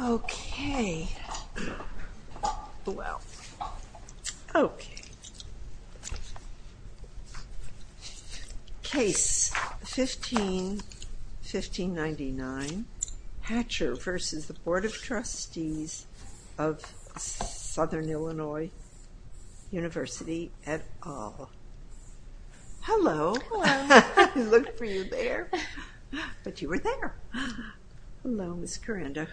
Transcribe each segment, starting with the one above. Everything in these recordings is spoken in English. Okay. Well, okay. Case 15-1599, Hatcher v. Board of Trustees of Southern Illinois University at all. Hello. I looked for you there, but you were there. Hello, Ms. Carando.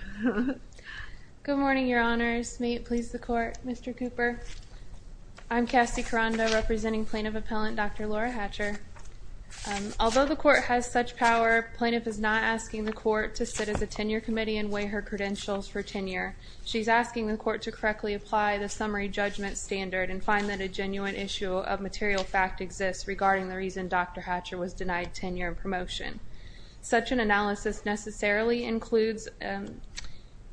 Good morning, your honors. May it please the court, Mr. Cooper. I'm Cassie Carando representing plaintiff appellant Dr. Laura Hatcher. Although the court has such power, plaintiff is not asking the court to sit as a tenure committee and weigh her credentials for tenure. She's asking the court to correctly apply the summary judgment standard and find that a genuine issue of material fact exists regarding the reason Dr. Hatcher was denied tenure and promotion. Such an analysis necessarily includes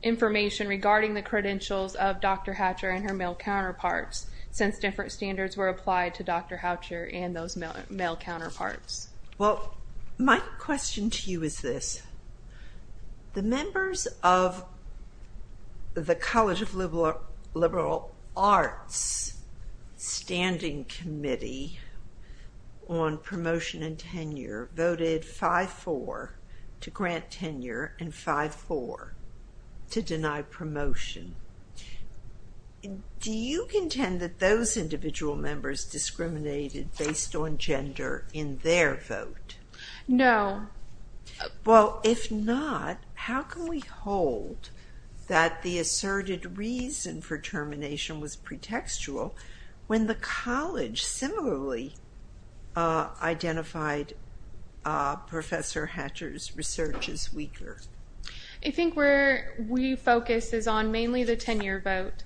information regarding the credentials of Dr. Hatcher and her male counterparts since different standards were applied to Dr. Hatcher and those male counterparts. Well, my question to you is this. The members of the College of Liberal Arts Standing Committee on Promotion and Tenure voted 5-4 to grant tenure and 5-4 to deny promotion. Do you contend that those Well, if not, how can we hold that the asserted reason for termination was pretextual when the college similarly identified Professor Hatcher's research as weaker? I think where we focus is on mainly the tenure vote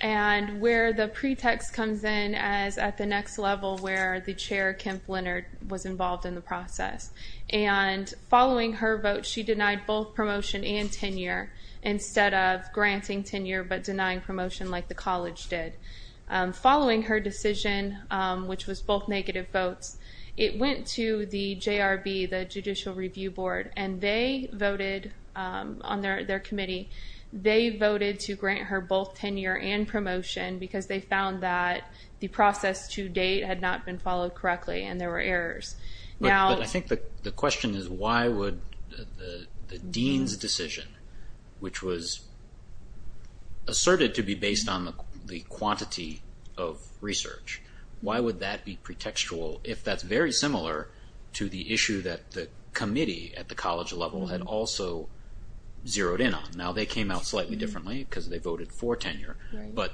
and where the pretext comes in as at the next level where the chair, Kim Flynnard, was involved in the process. And following her vote, she denied both promotion and tenure instead of granting tenure but denying promotion like the college did. Following her decision, which was both negative votes, it went to the JRB, the Judicial Review Board, and they voted on their committee, they voted to grant her both tenure and promotion because they found that the process to date had not been followed correctly and there were errors. But I think the question is why would the dean's decision, which was asserted to be based on the quantity of research, why would that be pretextual if that's very similar to the issue that the committee at the college level had also zeroed in on? Now they came out slightly differently because they voted for tenure, but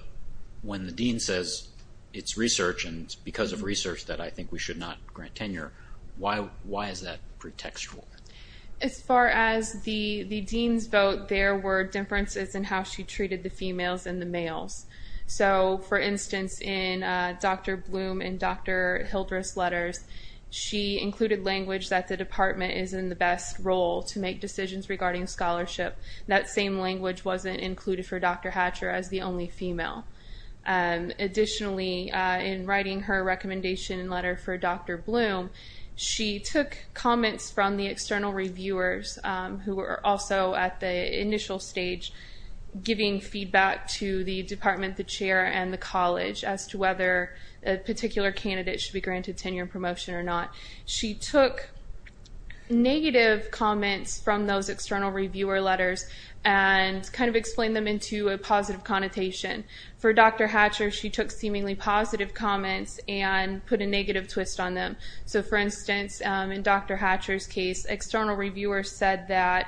when the dean says it's research and it's because of research that I think we should not grant tenure, why is that pretextual? As far as the dean's vote, there were differences in how she treated the females and the males. So for instance, in Dr. Bloom and Dr. Hildreth's letters, she included language that the department is in the best role to make decisions regarding scholarship. That same language wasn't included for Dr. Hatcher as the only female. Additionally, in writing her recommendation letter for Dr. Bloom, she took comments from the external reviewers who were also at the initial stage giving feedback to the department, the chair, and the college as to whether a particular candidate should be granted tenure and promotion or not. She took negative comments from those external reviewer letters and explained them into a positive connotation. For Dr. Hatcher, she took seemingly positive comments and put a negative twist on them. So for instance, in Dr. Hatcher's case, external reviewers said that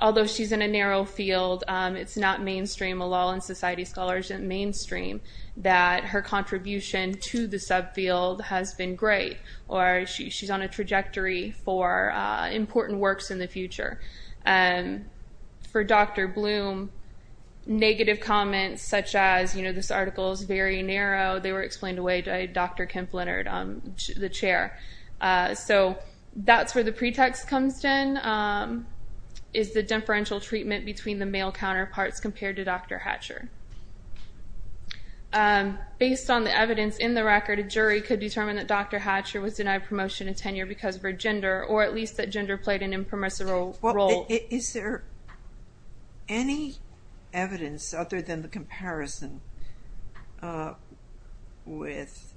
although she's in a narrow field, it's not mainstream, a law and society scholar isn't mainstream, that her contribution to the subfield has been great or she's on a trajectory for important works in the future. For Dr. Bloom, negative comments such as, you know, this article is very narrow, they were explained away by Dr. Kemp-Leonard, the chair. So that's where the pretext comes in, is the differential treatment between the male counterparts compared to Dr. Hatcher. Based on the evidence in the record, a jury could determine that Dr. Hatcher was denied promotion and tenure because of her gender or at least that gender played an impermissible role. Is there any evidence other than the comparison with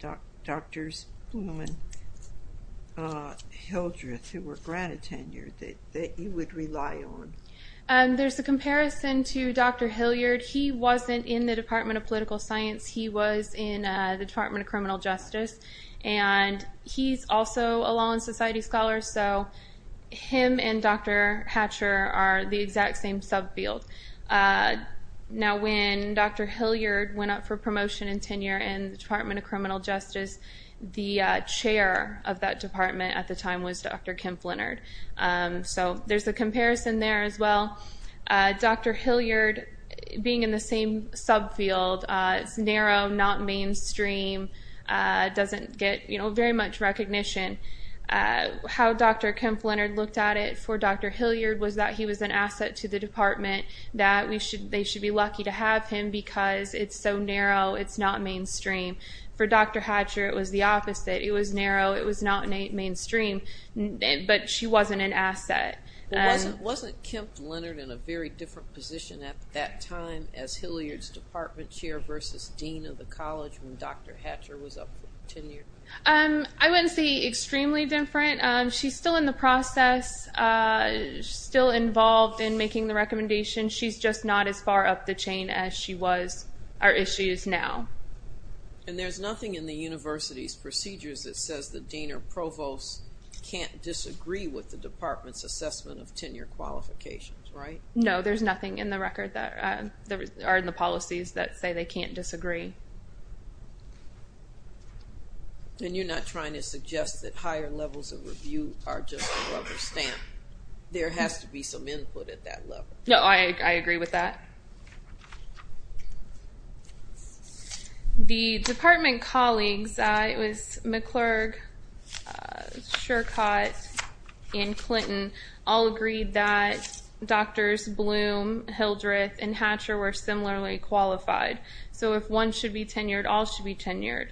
Drs. Bloom and Hildreth who were granted tenure that you would rely on? There's a comparison to Dr. Hilliard. He wasn't in the Department of Political Science, he was in the Department of Criminal Justice, and he's also a law and society scholar, so him and Dr. Hatcher are the exact same subfield. Now when Dr. Hilliard went up for promotion and tenure in the Department of Criminal Justice, the chair of that department at the time was Dr. Kemp-Leonard. So there's a comparison there as well. Dr. Hilliard being in the same subfield, it's narrow, not mainstream, doesn't get very much recognition. How Dr. Kemp-Leonard looked at it for Dr. Hilliard was that he was an asset to the department, that they should be lucky to have him because it's so narrow, it's not mainstream. For Dr. Hatcher it was the opposite. It was narrow, it was not mainstream, but she wasn't an asset. Wasn't Kemp-Leonard in a very different position at that time as Hilliard's department chair versus dean of the college when Dr. Hatcher was up for tenure? I wouldn't say extremely different. She's still in the process, still involved in making the recommendations, she's just not as far up the chain as she was, or as she is now. And there's nothing in the university's procedures that says the dean or provost can't disagree with the department's assessment of tenure qualifications, right? No, there's nothing in the record that, or in the policies that say they can't disagree. And you're not trying to suggest that higher levels of review are just a rubber stamp. There has to be some input at that level. No, I agree with that. The department colleagues, it was McClurg, Shercott, and Clinton all agreed that Drs. Bloom, Hildreth, and Hatcher were similarly qualified. So if one should be tenured, all should be tenured.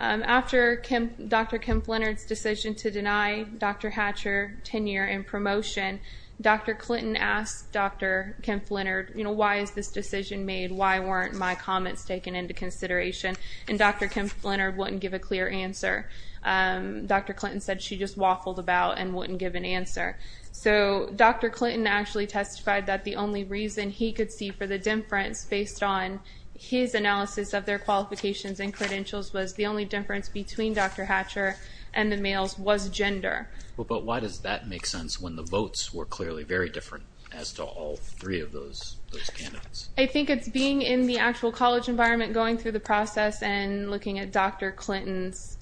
After Dr. Kemp-Leonard's decision to deny Dr. Hatcher tenure and promotion, Dr. Clinton asked Dr. Kemp-Leonard, you know, why is this decision made? Why weren't my comments taken into consideration? And Dr. Kemp-Leonard wouldn't give a clear answer. Dr. Clinton said she just waffled about and wouldn't give an answer. So Dr. Clinton actually testified that the only reason he could see for the difference based on his analysis of their qualifications and credentials was the only difference between Dr. Hatcher and the males was gender. But why does that make sense when the votes were clearly very different as to all three of those candidates? I think it's being in the actual college environment, going through the process, and looking at Dr. Clinton's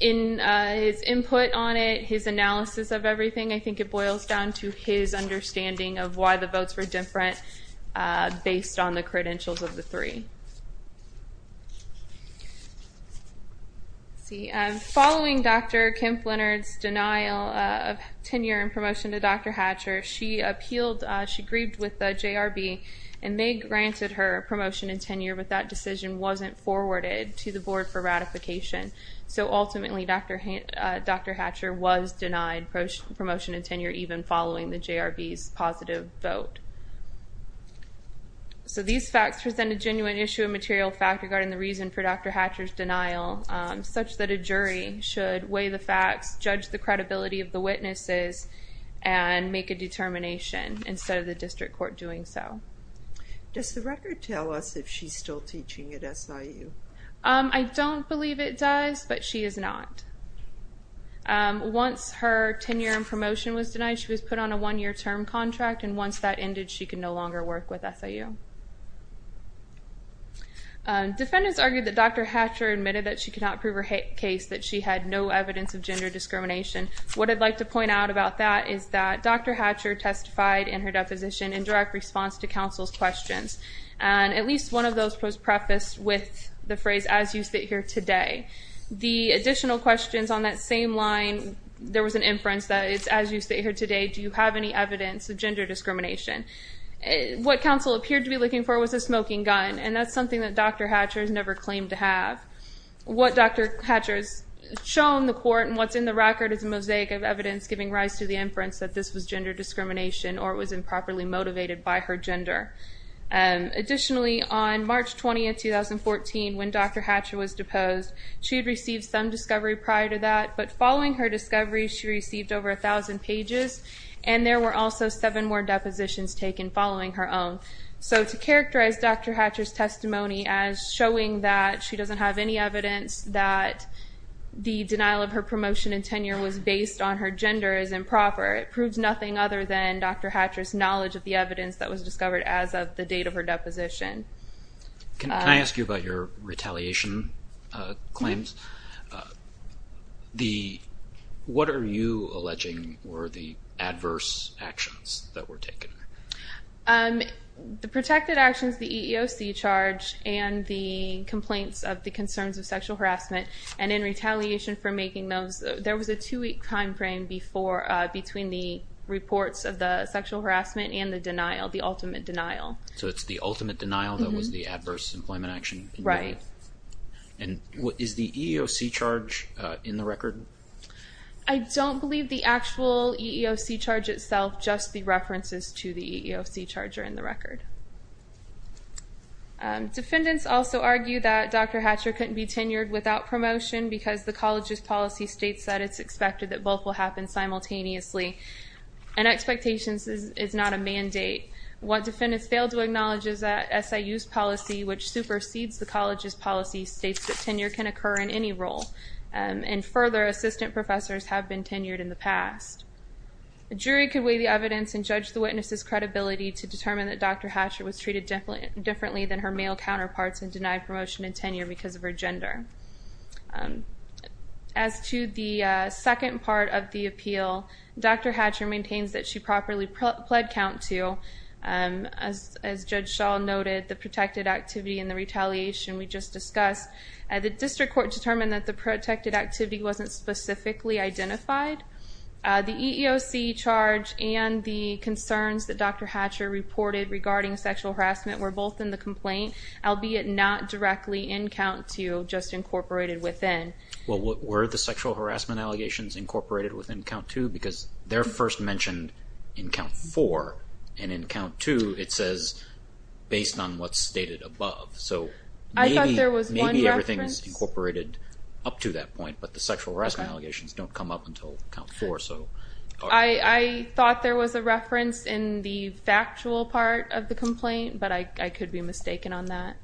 input on it, his analysis of everything. I think it boils down to his understanding of why the votes were different based on the credentials of the three. See, following Dr. Kemp-Leonard's denial of tenure and promotion to Dr. Hatcher, she appealed, she grieved with the JRB, and they granted her promotion and tenure, but that decision wasn't forwarded to the board for ratification. So ultimately, Dr. Hatcher was denied promotion and tenure even following the JRB's positive vote. So these facts present a genuine issue of material fact regarding the reason for Dr. Hatcher's denial, such that a jury should weigh the facts, judge the credibility of the witnesses, and make a determination instead of the district court doing so. Does the record tell us if she's still teaching at SIU? I don't believe it does, but she is not. Once her tenure and promotion was denied, she was put on a one-year term contract, and once that ended, she could no longer work with SIU. Defendants argued that Dr. Hatcher admitted that she could not prove her case, that she had no evidence of gender discrimination. What I'd like to point out about that is that Dr. Hatcher testified in her deposition in direct response to counsel's questions, and at least one of those was prefaced with the phrase, as you sit here today. The additional questions on that same line, there was an inference that it's, as you sit here today, do you have any evidence of gender discrimination? What counsel appeared to be looking for was a smoking gun, and that's something that Dr. Hatcher has never claimed to have. What Dr. Hatcher has shown the court and what's in the record is a mosaic of evidence giving rise to the inference that this was gender discrimination or it was improperly motivated by her gender. Additionally, on March 20, 2014, when Dr. Hatcher was deposed, she had received some discovery prior to that, but following her discovery, she received over a thousand pages, and there were also seven more depositions taken following her own. So to characterize Dr. Hatcher's testimony as showing that she doesn't have any evidence that the denial of her promotion and tenure was based on her gender is improper. It proves nothing other than Dr. Hatcher's knowledge of the evidence that was discovered as of the date of her deposition. Can I ask you about your retaliation claims? What are you alleging were the adverse actions that were taken? The protected actions, the EEOC charge, and the complaints of the concerns of sexual harassment, and in retaliation for making those, there was a two-week time frame between the reports of the sexual harassment and the denial, the ultimate denial. So it's the ultimate denial that was the adverse employment action? Right. And is the EEOC charge in the record? I don't believe the actual EEOC charge itself, just the references to the EEOC charge are in the record. Defendants also argue that Dr. Hatcher couldn't be tenured without promotion because the college's policy states that it's expected that both will happen simultaneously, and expectations is not a mandate. What defendants fail to acknowledge is that SIU's policy, which supersedes the college's policy, states that tenure can occur in any role, and further, assistant professors have been tenured in the past. A jury could weigh the evidence and judge the witness's credibility to determine that Dr. Hatcher was treated differently than her male counterparts and denied promotion and tenure because of her gender. As to the second part of the appeal, Dr. Hatcher maintains that she properly pled count to, as Judge Shaw noted, the protected activity and the retaliation we just discussed. The district court determined that the protected activity wasn't specifically identified. The EEOC charge and the concerns that Dr. Hatcher reported regarding sexual harassment were both in the complaint, albeit not directly in count to, just incorporated within. Were the sexual harassment allegations incorporated within count to? Because they're first mentioned in count four, and in count two it says, based on what's stated above. I thought there was one reference. Maybe everything's incorporated up to that point, but the sexual harassment allegations don't come up until count four. I thought there was a reference in the factual part of the complaint, but I could be mistaken on that.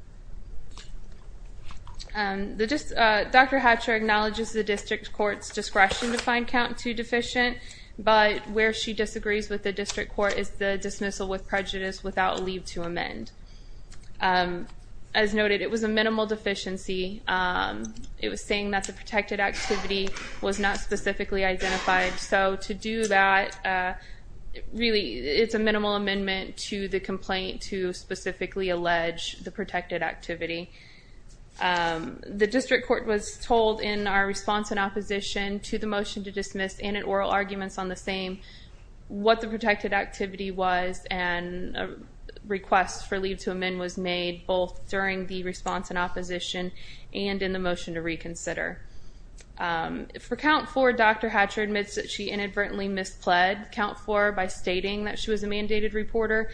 Dr. Hatcher acknowledges the district court's discretion to find count to deficient, but where she disagrees with the district court is the dismissal with prejudice without leave to amend. As noted, it was a minimal deficiency. It was saying that the protected activity was not specifically identified, so to do that, really, it's a minimal amendment to the complaint to specifically allege the protected activity. The district court was told in our response in opposition to the motion to dismiss, and in oral arguments on the same, what the protected activity was, and a request for leave to amend was made both during the response in opposition and in the motion to reconsider. For count four, Dr. Hatcher admits that she inadvertently mispled count four by stating that she was a mandated reporter.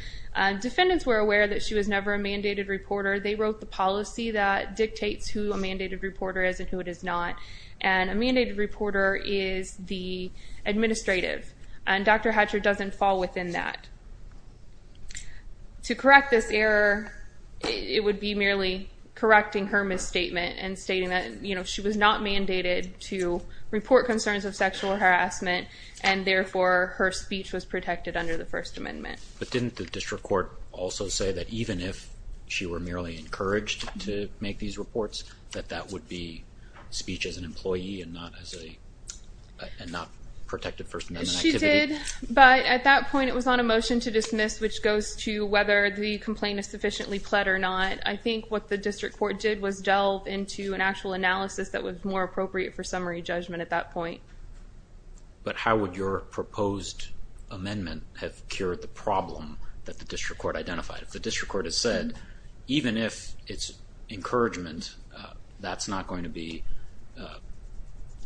Defendants were aware that she was never a mandated reporter. They wrote the policy that dictates who a mandated reporter is and who it is not, and a mandated reporter is the administrative, and Dr. Hatcher doesn't fall within that. To correct this error, it would be merely correcting her misstatement and stating that she was not mandated to report concerns of sexual harassment, and therefore, her speech was protected under the First Amendment. But didn't the district court also say that even if she were merely encouraged to make these reports, that that would be speech as an employee and not protected First Amendment activity? It did, but at that point, it was on a motion to dismiss, which goes to whether the complaint is sufficiently pled or not. I think what the district court did was delve into an actual analysis that was more appropriate for summary judgment at that point. But how would your proposed amendment have cured the problem that the district court identified? If the district court has said, even if it's encouragement, that's not going to be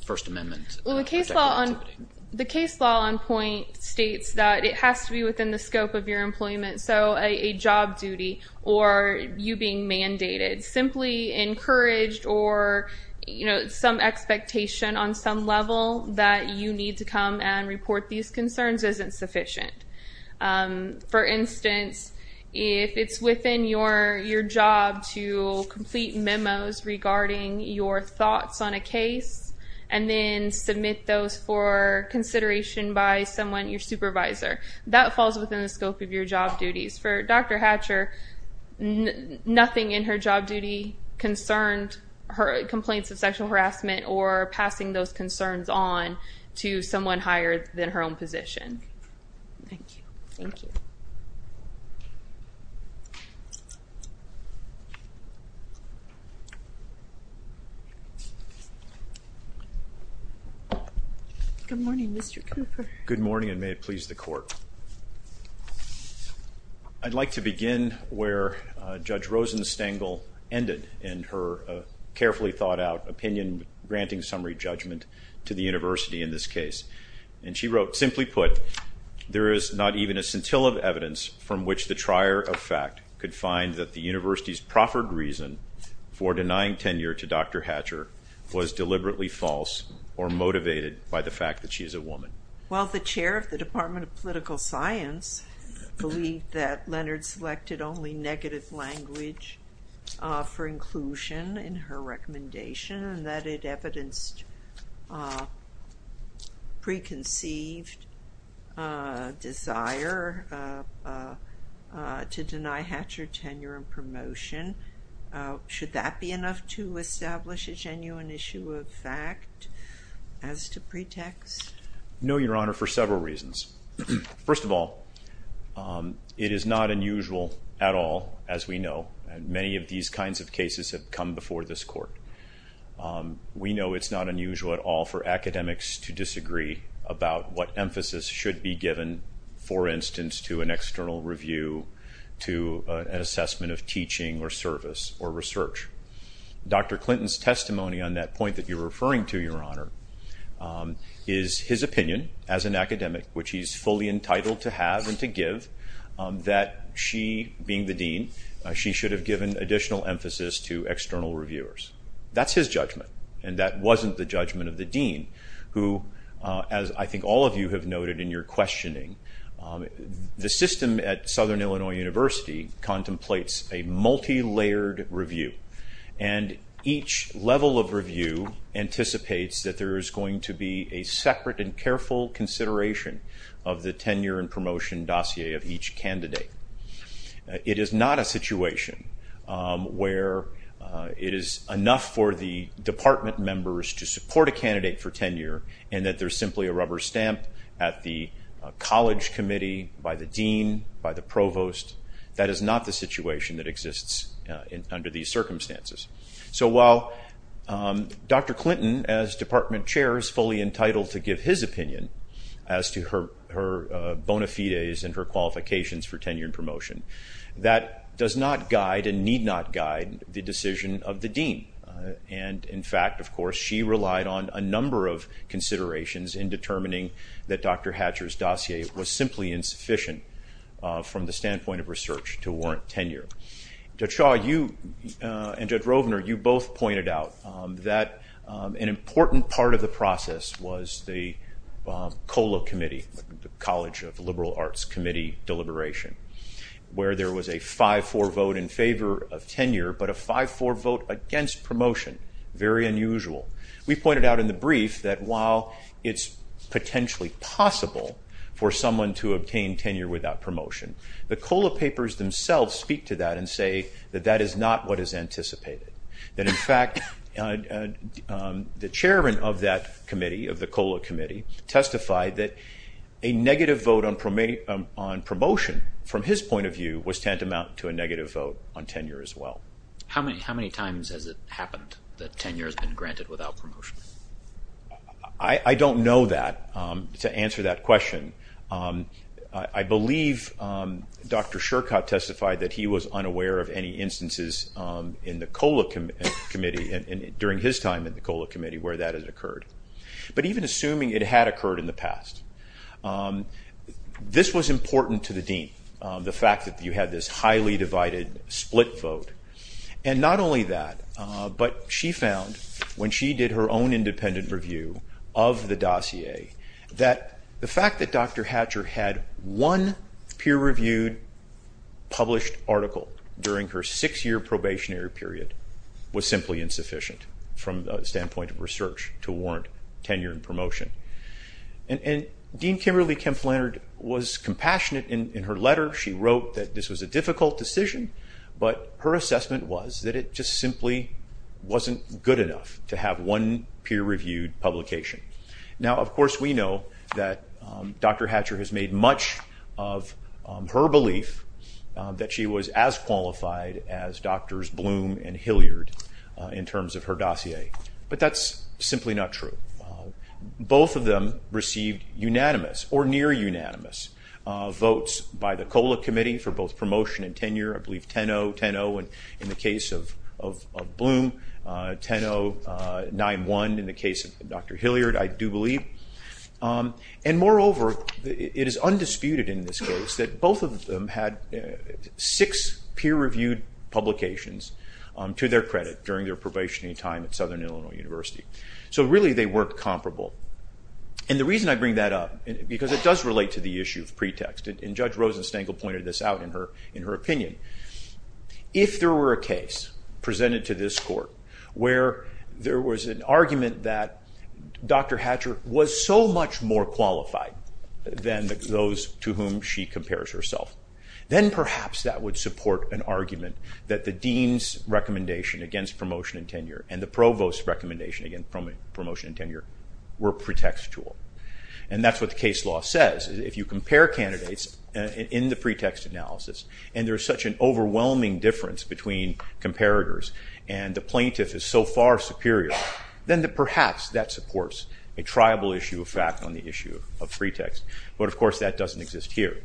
First Amendment. The case law on point states that it has to be within the scope of your employment, so a job duty or you being mandated, simply encouraged or some expectation on some level that you need to come and report these concerns isn't sufficient. For instance, if it's within your job to complete memos regarding your thoughts on a case and then submit those for consideration by someone, your supervisor, that falls within the scope of your job duties. For Dr. Hatcher, nothing in her job duty concerned her complaints of sexual harassment or passing those concerns on to someone higher than her own position. Thank you. Good morning, Mr. Cooper. Good morning and may it please the court. I'd like to begin where Judge Rosenstengel ended in her carefully thought out opinion granting summary judgment to the university in this case. And she wrote, simply put, there is not even a scintilla of evidence from which the trier of fact could find that the university's proffered reason for denying tenure to Dr. Hatcher was deliberately false or motivated by the fact that she is a woman. Well, the chair of the Department of Political Science believed that Leonard selected only negative language for inclusion in her recommendation and that it evidenced preconceived desire to deny Hatcher tenure and promotion. Should that be enough to establish a genuine issue of fact as to pretext? No, Your Honor, for several reasons. First of all, it is not unusual at all, as we know, and many of these kinds of cases have come before this court. We know it's not unusual at all for academics to disagree about what emphasis should be given, for instance, to an external review, to an assessment of teaching or service or research. Dr. Clinton's testimony on that point that you're referring to, Your Honor, is his opinion as an academic, which he's fully entitled to have and to give, that she, being the dean, she should have given additional emphasis to external reviewers. That's his judgment, and that wasn't the judgment of the dean, who, as I think all of you have noted in your questioning, the system at Southern Illinois University contemplates a multilayered review, and each level of review anticipates that there is going to be a separate and careful consideration of the tenure and promotion dossier of each candidate. It is not a situation where it is enough for the department members to support a candidate for tenure and that there's simply a rubber stamp at the college committee by the dean, by the provost. That is not the situation that exists under these circumstances. So while Dr. Clinton, as department chair, is fully entitled to give his opinion as to her bona fides and her qualifications for tenure and promotion, that does not guide and need not guide the decision of the dean. And, in fact, of course, she relied on a number of considerations in determining that Dr. Hatcher's dossier was simply insufficient from the standpoint of research to warrant tenure. Judge Shaw, you and Judge Rovner, you both pointed out that an important part of the process was the COLA committee, the College of Liberal Arts Committee deliberation, where there was a 5-4 vote in favor of tenure, but a 5-4 vote against promotion. Very unusual. We pointed out in the brief that while it's potentially possible for someone to obtain tenure without promotion, the COLA papers themselves speak to that and say that that is not what is anticipated. That, in fact, the chairman of that committee, of the COLA committee, testified that a negative vote on promotion, from his point of view, was tantamount to a negative vote on tenure as well. How many times has it happened that tenure has been granted without promotion? I don't know that, to answer that question. I believe Dr. Shercott testified that he was unaware of any instances in the COLA committee, during his time in the COLA committee, where that has occurred. But even assuming it had occurred in the past. This was important to the dean, the fact that you had this highly divided split vote. And not only that, but she found, when she did her own independent review of the dossier, that the fact that Dr. Hatcher had one peer-reviewed published article during her six-year probationary period to warrant tenure and promotion. And Dean Kimberly Kemp-Flannard was compassionate in her letter. She wrote that this was a difficult decision, but her assessment was that it just simply wasn't good enough to have one peer-reviewed publication. Now, of course, we know that Dr. Hatcher has made much of her belief that she was as qualified as Drs. Bloom and Hilliard, in terms of her dossier. But that's simply not true. Both of them received unanimous, or near unanimous, votes by the COLA committee for both promotion and tenure. I believe 10-0, 10-0 in the case of Bloom, 10-0, 9-1 in the case of Dr. Hilliard, I do believe. And moreover, it is undisputed in this case that both of them had six peer-reviewed publications to their credit during their probationary time at Southern Illinois University. So, really, they weren't comparable. And the reason I bring that up, because it does relate to the issue of pretext, and Judge Rosenstengel pointed this out in her opinion, if there were a case presented to this court where there was an argument that Dr. Hatcher was so much more qualified than those to whom she compares herself, then perhaps that would support an argument that the dean's recommendation against promotion and tenure and the provost's recommendation against promotion and tenure were pretextual. And that's what the case law says. If you compare candidates in the pretext analysis and there's such an overwhelming difference between comparators and the plaintiff is so far superior, then perhaps that supports a triable issue of fact on the issue of pretext. But, of course, that doesn't exist here.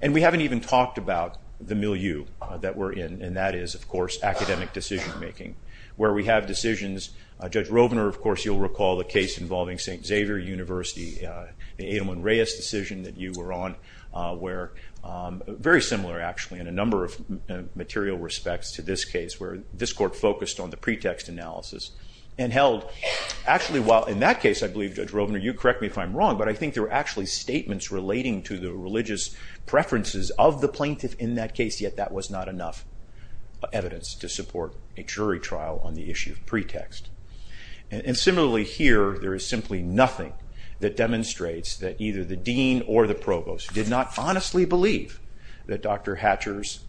And we haven't even talked about the milieu that we're in, and that is, of course, academic decision-making. Where we have decisions, Judge Rovner, of course, you'll recall the case involving St. Xavier University, the Adam and Reyes decision that you were on, where very similar, actually, in a number of material respects to this case, where this court focused on the pretext analysis and held, actually, while in that case, I believe, Judge Rovner, you correct me if I'm wrong, but I think there were actually statements relating to the religious preferences of the plaintiff in that case, yet that was not enough evidence to support a jury trial on the issue of pretext. And similarly here, there is simply nothing that demonstrates that either the dean or the provost did not honestly believe that Dr. Hatcher's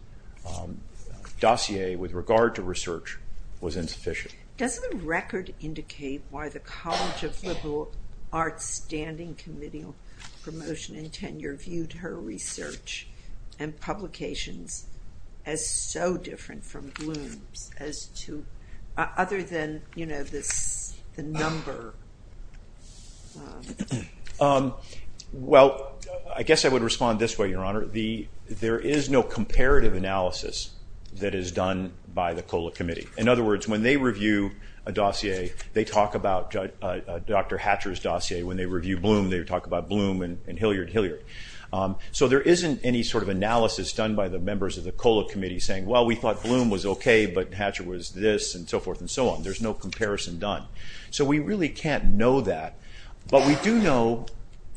dossier with regard to research was insufficient. Does the record indicate why the College of Liberal Arts Standing Committee on Promotion and Tenure reviewed her research and publications as so different from Bloom's as to other than, you know, the number? Well, I guess I would respond this way, Your Honor. There is no comparative analysis that is done by the COLA Committee. In other words, when they review a dossier, they talk about Dr. Hatcher's dossier. When they review Bloom, they talk about Bloom and Hilliard-Hilliard. So there isn't any sort of analysis done by the members of the COLA Committee saying, well, we thought Bloom was okay, but Hatcher was this, and so forth and so on. There's no comparison done. So we really can't know that, but we do know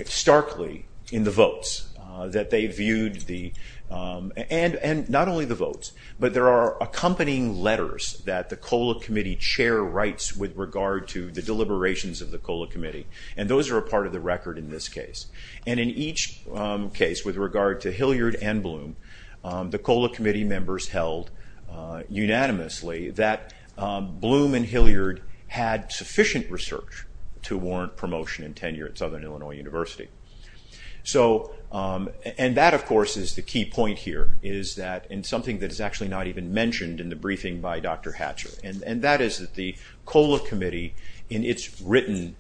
starkly in the votes that they viewed the – and not only the votes, but there are accompanying letters that the COLA Committee chair writes with regard to the deliberations of the COLA Committee, and those are a part of the record in this case. And in each case with regard to Hilliard and Bloom, the COLA Committee members held unanimously that Bloom and Hilliard had sufficient research to warrant promotion and tenure at Southern Illinois University. And that, of course, is the key point here, is that in something that is actually not even mentioned in the briefing by Dr. Hatcher, and that is that the COLA Committee in its written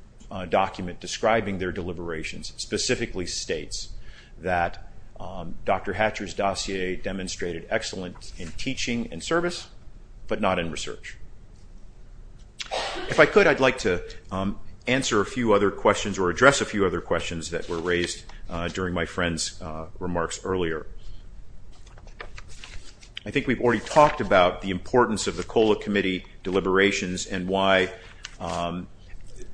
document describing their deliberations specifically states that Dr. Hatcher's dossier demonstrated excellence in teaching and service, but not in research. If I could, I'd like to answer a few other questions or address a few other questions that were raised during my friend's remarks earlier. I think we've already talked about the importance of the COLA Committee deliberations and why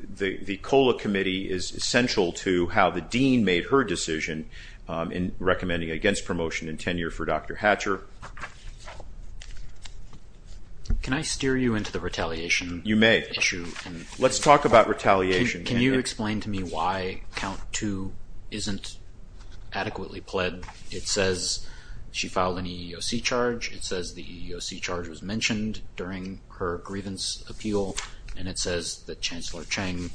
the COLA Committee is essential to how the dean made her decision in recommending against promotion and tenure for Dr. Hatcher. Can I steer you into the retaliation issue? You may. Let's talk about retaliation. Can you explain to me why Count 2 isn't adequately pled it says she filed an EEOC charge, it says the EEOC charge was mentioned during her grievance appeal, and it says that Chancellor Cheng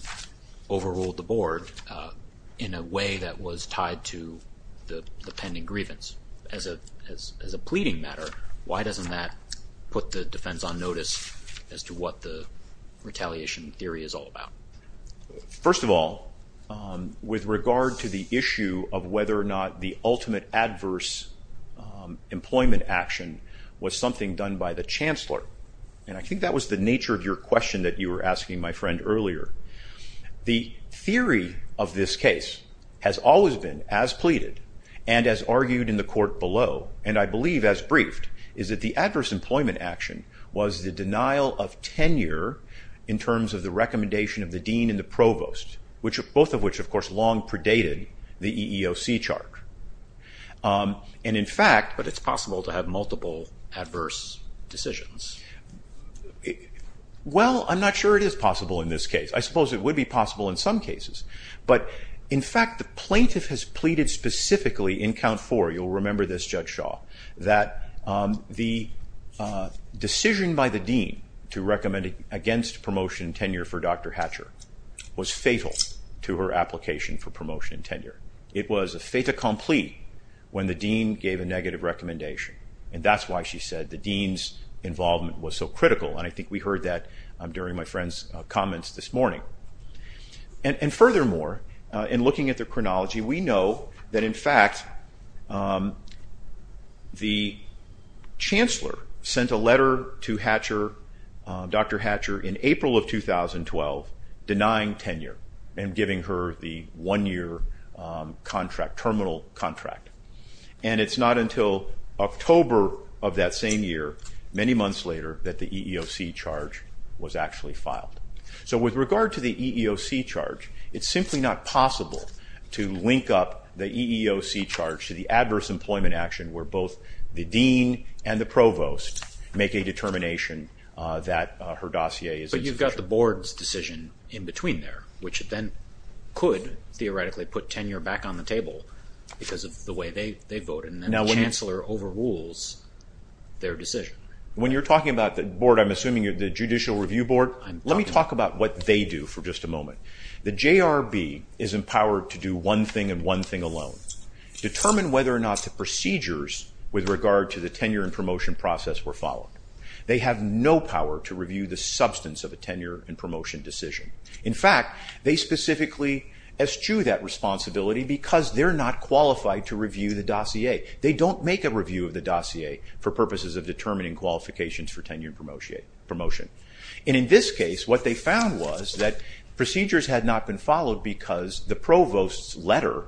overruled the board in a way that was tied to the pending grievance. As a pleading matter, why doesn't that put the defense on notice as to what the retaliation theory is all about? The ultimate adverse employment action was something done by the chancellor, and I think that was the nature of your question that you were asking my friend earlier. The theory of this case has always been, as pleaded, and as argued in the court below, and I believe as briefed, is that the adverse employment action was the denial of tenure in terms of the recommendation of the dean and the provost, both of which, of course, long predated the EEOC charge. But it's possible to have multiple adverse decisions. Well, I'm not sure it is possible in this case. I suppose it would be possible in some cases, but in fact the plaintiff has pleaded specifically in Count 4, you'll remember this Judge Shaw, that the decision by the dean to recommend against promotion and tenure for Dr. Hatcher was fatal to her application for promotion and tenure. It was a fait accompli when the dean gave a negative recommendation, and that's why she said the dean's involvement was so critical, and I think we heard that during my friend's comments this morning. And furthermore, in looking at the chronology, we know that in fact the chancellor sent a letter to Dr. Hatcher in April of 2012 denying tenure and giving her the one-year contract, terminal contract. And it's not until October of that same year, many months later, that the EEOC charge was actually filed. So with regard to the EEOC charge, it's simply not possible to link up the EEOC charge to the adverse employment action where both the dean and the provost make a determination that her dossier is insufficient. But you've got the board's decision in between there, which then could theoretically put tenure back on the table because of the way they voted, and then the chancellor overrules their decision. When you're talking about the board, I'm assuming you're the Judicial Review Board. Let me talk about what they do for just a moment. The JRB is empowered to do one thing and one thing alone, determine whether or not the procedures with regard to the tenure and promotion process were followed. They have no power to review the substance of a tenure and promotion decision. In fact, they specifically eschew that responsibility because they're not qualified to review the dossier. They don't make a review of the dossier for purposes of determining qualifications for tenure and promotion. And in this case, what they found was that procedures had not been followed because the provost's letter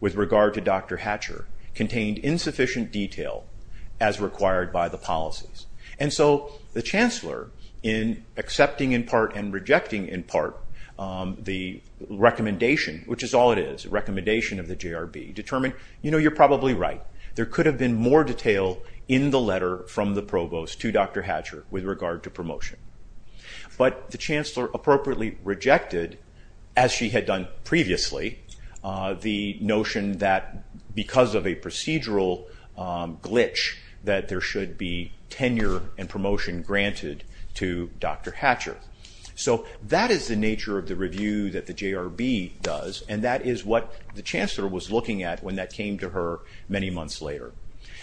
with regard to Dr. Hatcher contained insufficient detail as required by the policies. And so the chancellor, in accepting in part and rejecting in part the recommendation, which is all it is, a recommendation of the JRB, determined, you know, you're probably right. There could have been more detail in the letter from the provost to Dr. Hatcher with regard to promotion. But the chancellor appropriately rejected, as she had done previously, the notion that because of a procedural glitch that there should be tenure and promotion granted to Dr. Hatcher. So that is the nature of the review that the JRB does, and that is what the chancellor was looking at when that came to her many months later.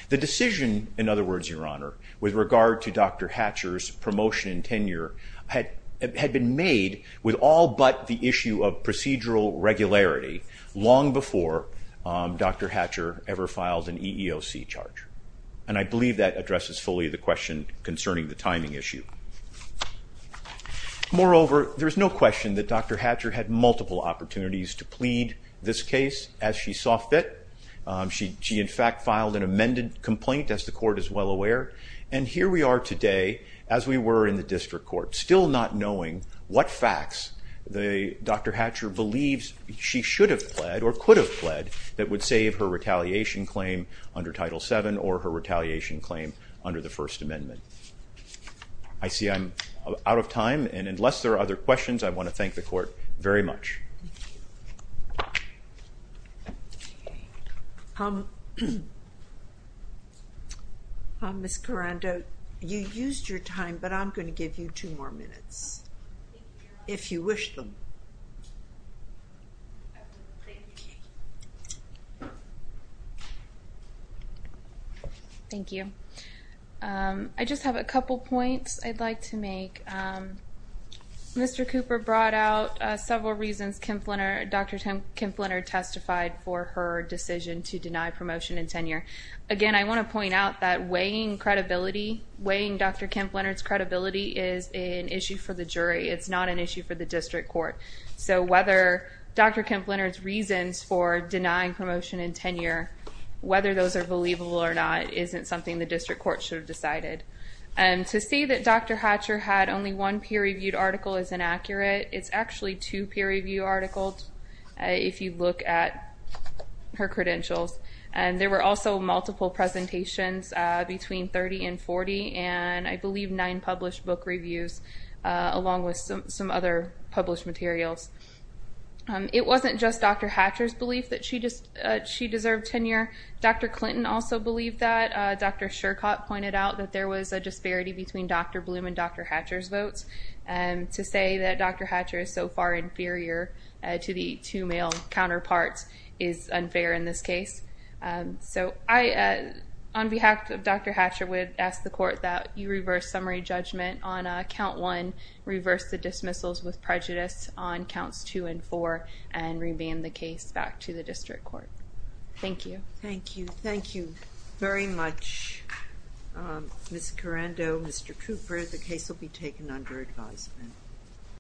The decision, in other words, Your Honor, with regard to Dr. Hatcher's promotion and tenure had been made with all but the issue of procedural regularity long before Dr. Hatcher ever filed an EEOC charge. And I believe that addresses fully the question concerning the timing issue. Moreover, there is no question that Dr. Hatcher had multiple opportunities to plead this case as she saw fit. She, in fact, filed an amended complaint, as the court is well aware. And here we are today, as we were in the district court, still not knowing what facts Dr. Hatcher believes she should have pled or could have pled that would save her retaliation claim under Title VII or her retaliation claim under the First Amendment. I see I'm out of time, and unless there are other questions, I want to thank the court very much. Ms. Carando, you used your time, but I'm going to give you two more minutes, if you wish them. Thank you. Thank you. I just have a couple points I'd like to make. Mr. Cooper brought out several reasons Dr. Kemp-Leonard testified for her decision to deny promotion and tenure. Again, I want to point out that weighing Dr. Kemp-Leonard's credibility is an issue for the jury. It's not an issue for the district court. So whether Dr. Kemp-Leonard's reasons for denying promotion and tenure, whether those are believable or not, isn't something the district court should have decided. To say that Dr. Hatcher had only one peer-reviewed article is inaccurate. It's actually two peer-reviewed articles, if you look at her credentials. And there were also multiple presentations between 30 and 40, and I believe nine published book reviews along with some other published materials. It wasn't just Dr. Hatcher's belief that she deserved tenure. Dr. Clinton also believed that. Dr. Shercott pointed out that there was a disparity between Dr. Bloom and Dr. Hatcher's votes. To say that Dr. Hatcher is so far inferior to the two male counterparts is unfair in this case. So I, on behalf of Dr. Hatcher, would ask the court that you reverse summary judgment on Count 1, reverse the dismissals with prejudice on Counts 2 and 4, and remand the case back to the district court. Thank you. Thank you. Thank you very much, Ms. Carando, Mr. Cooper. The case will be taken under advisement.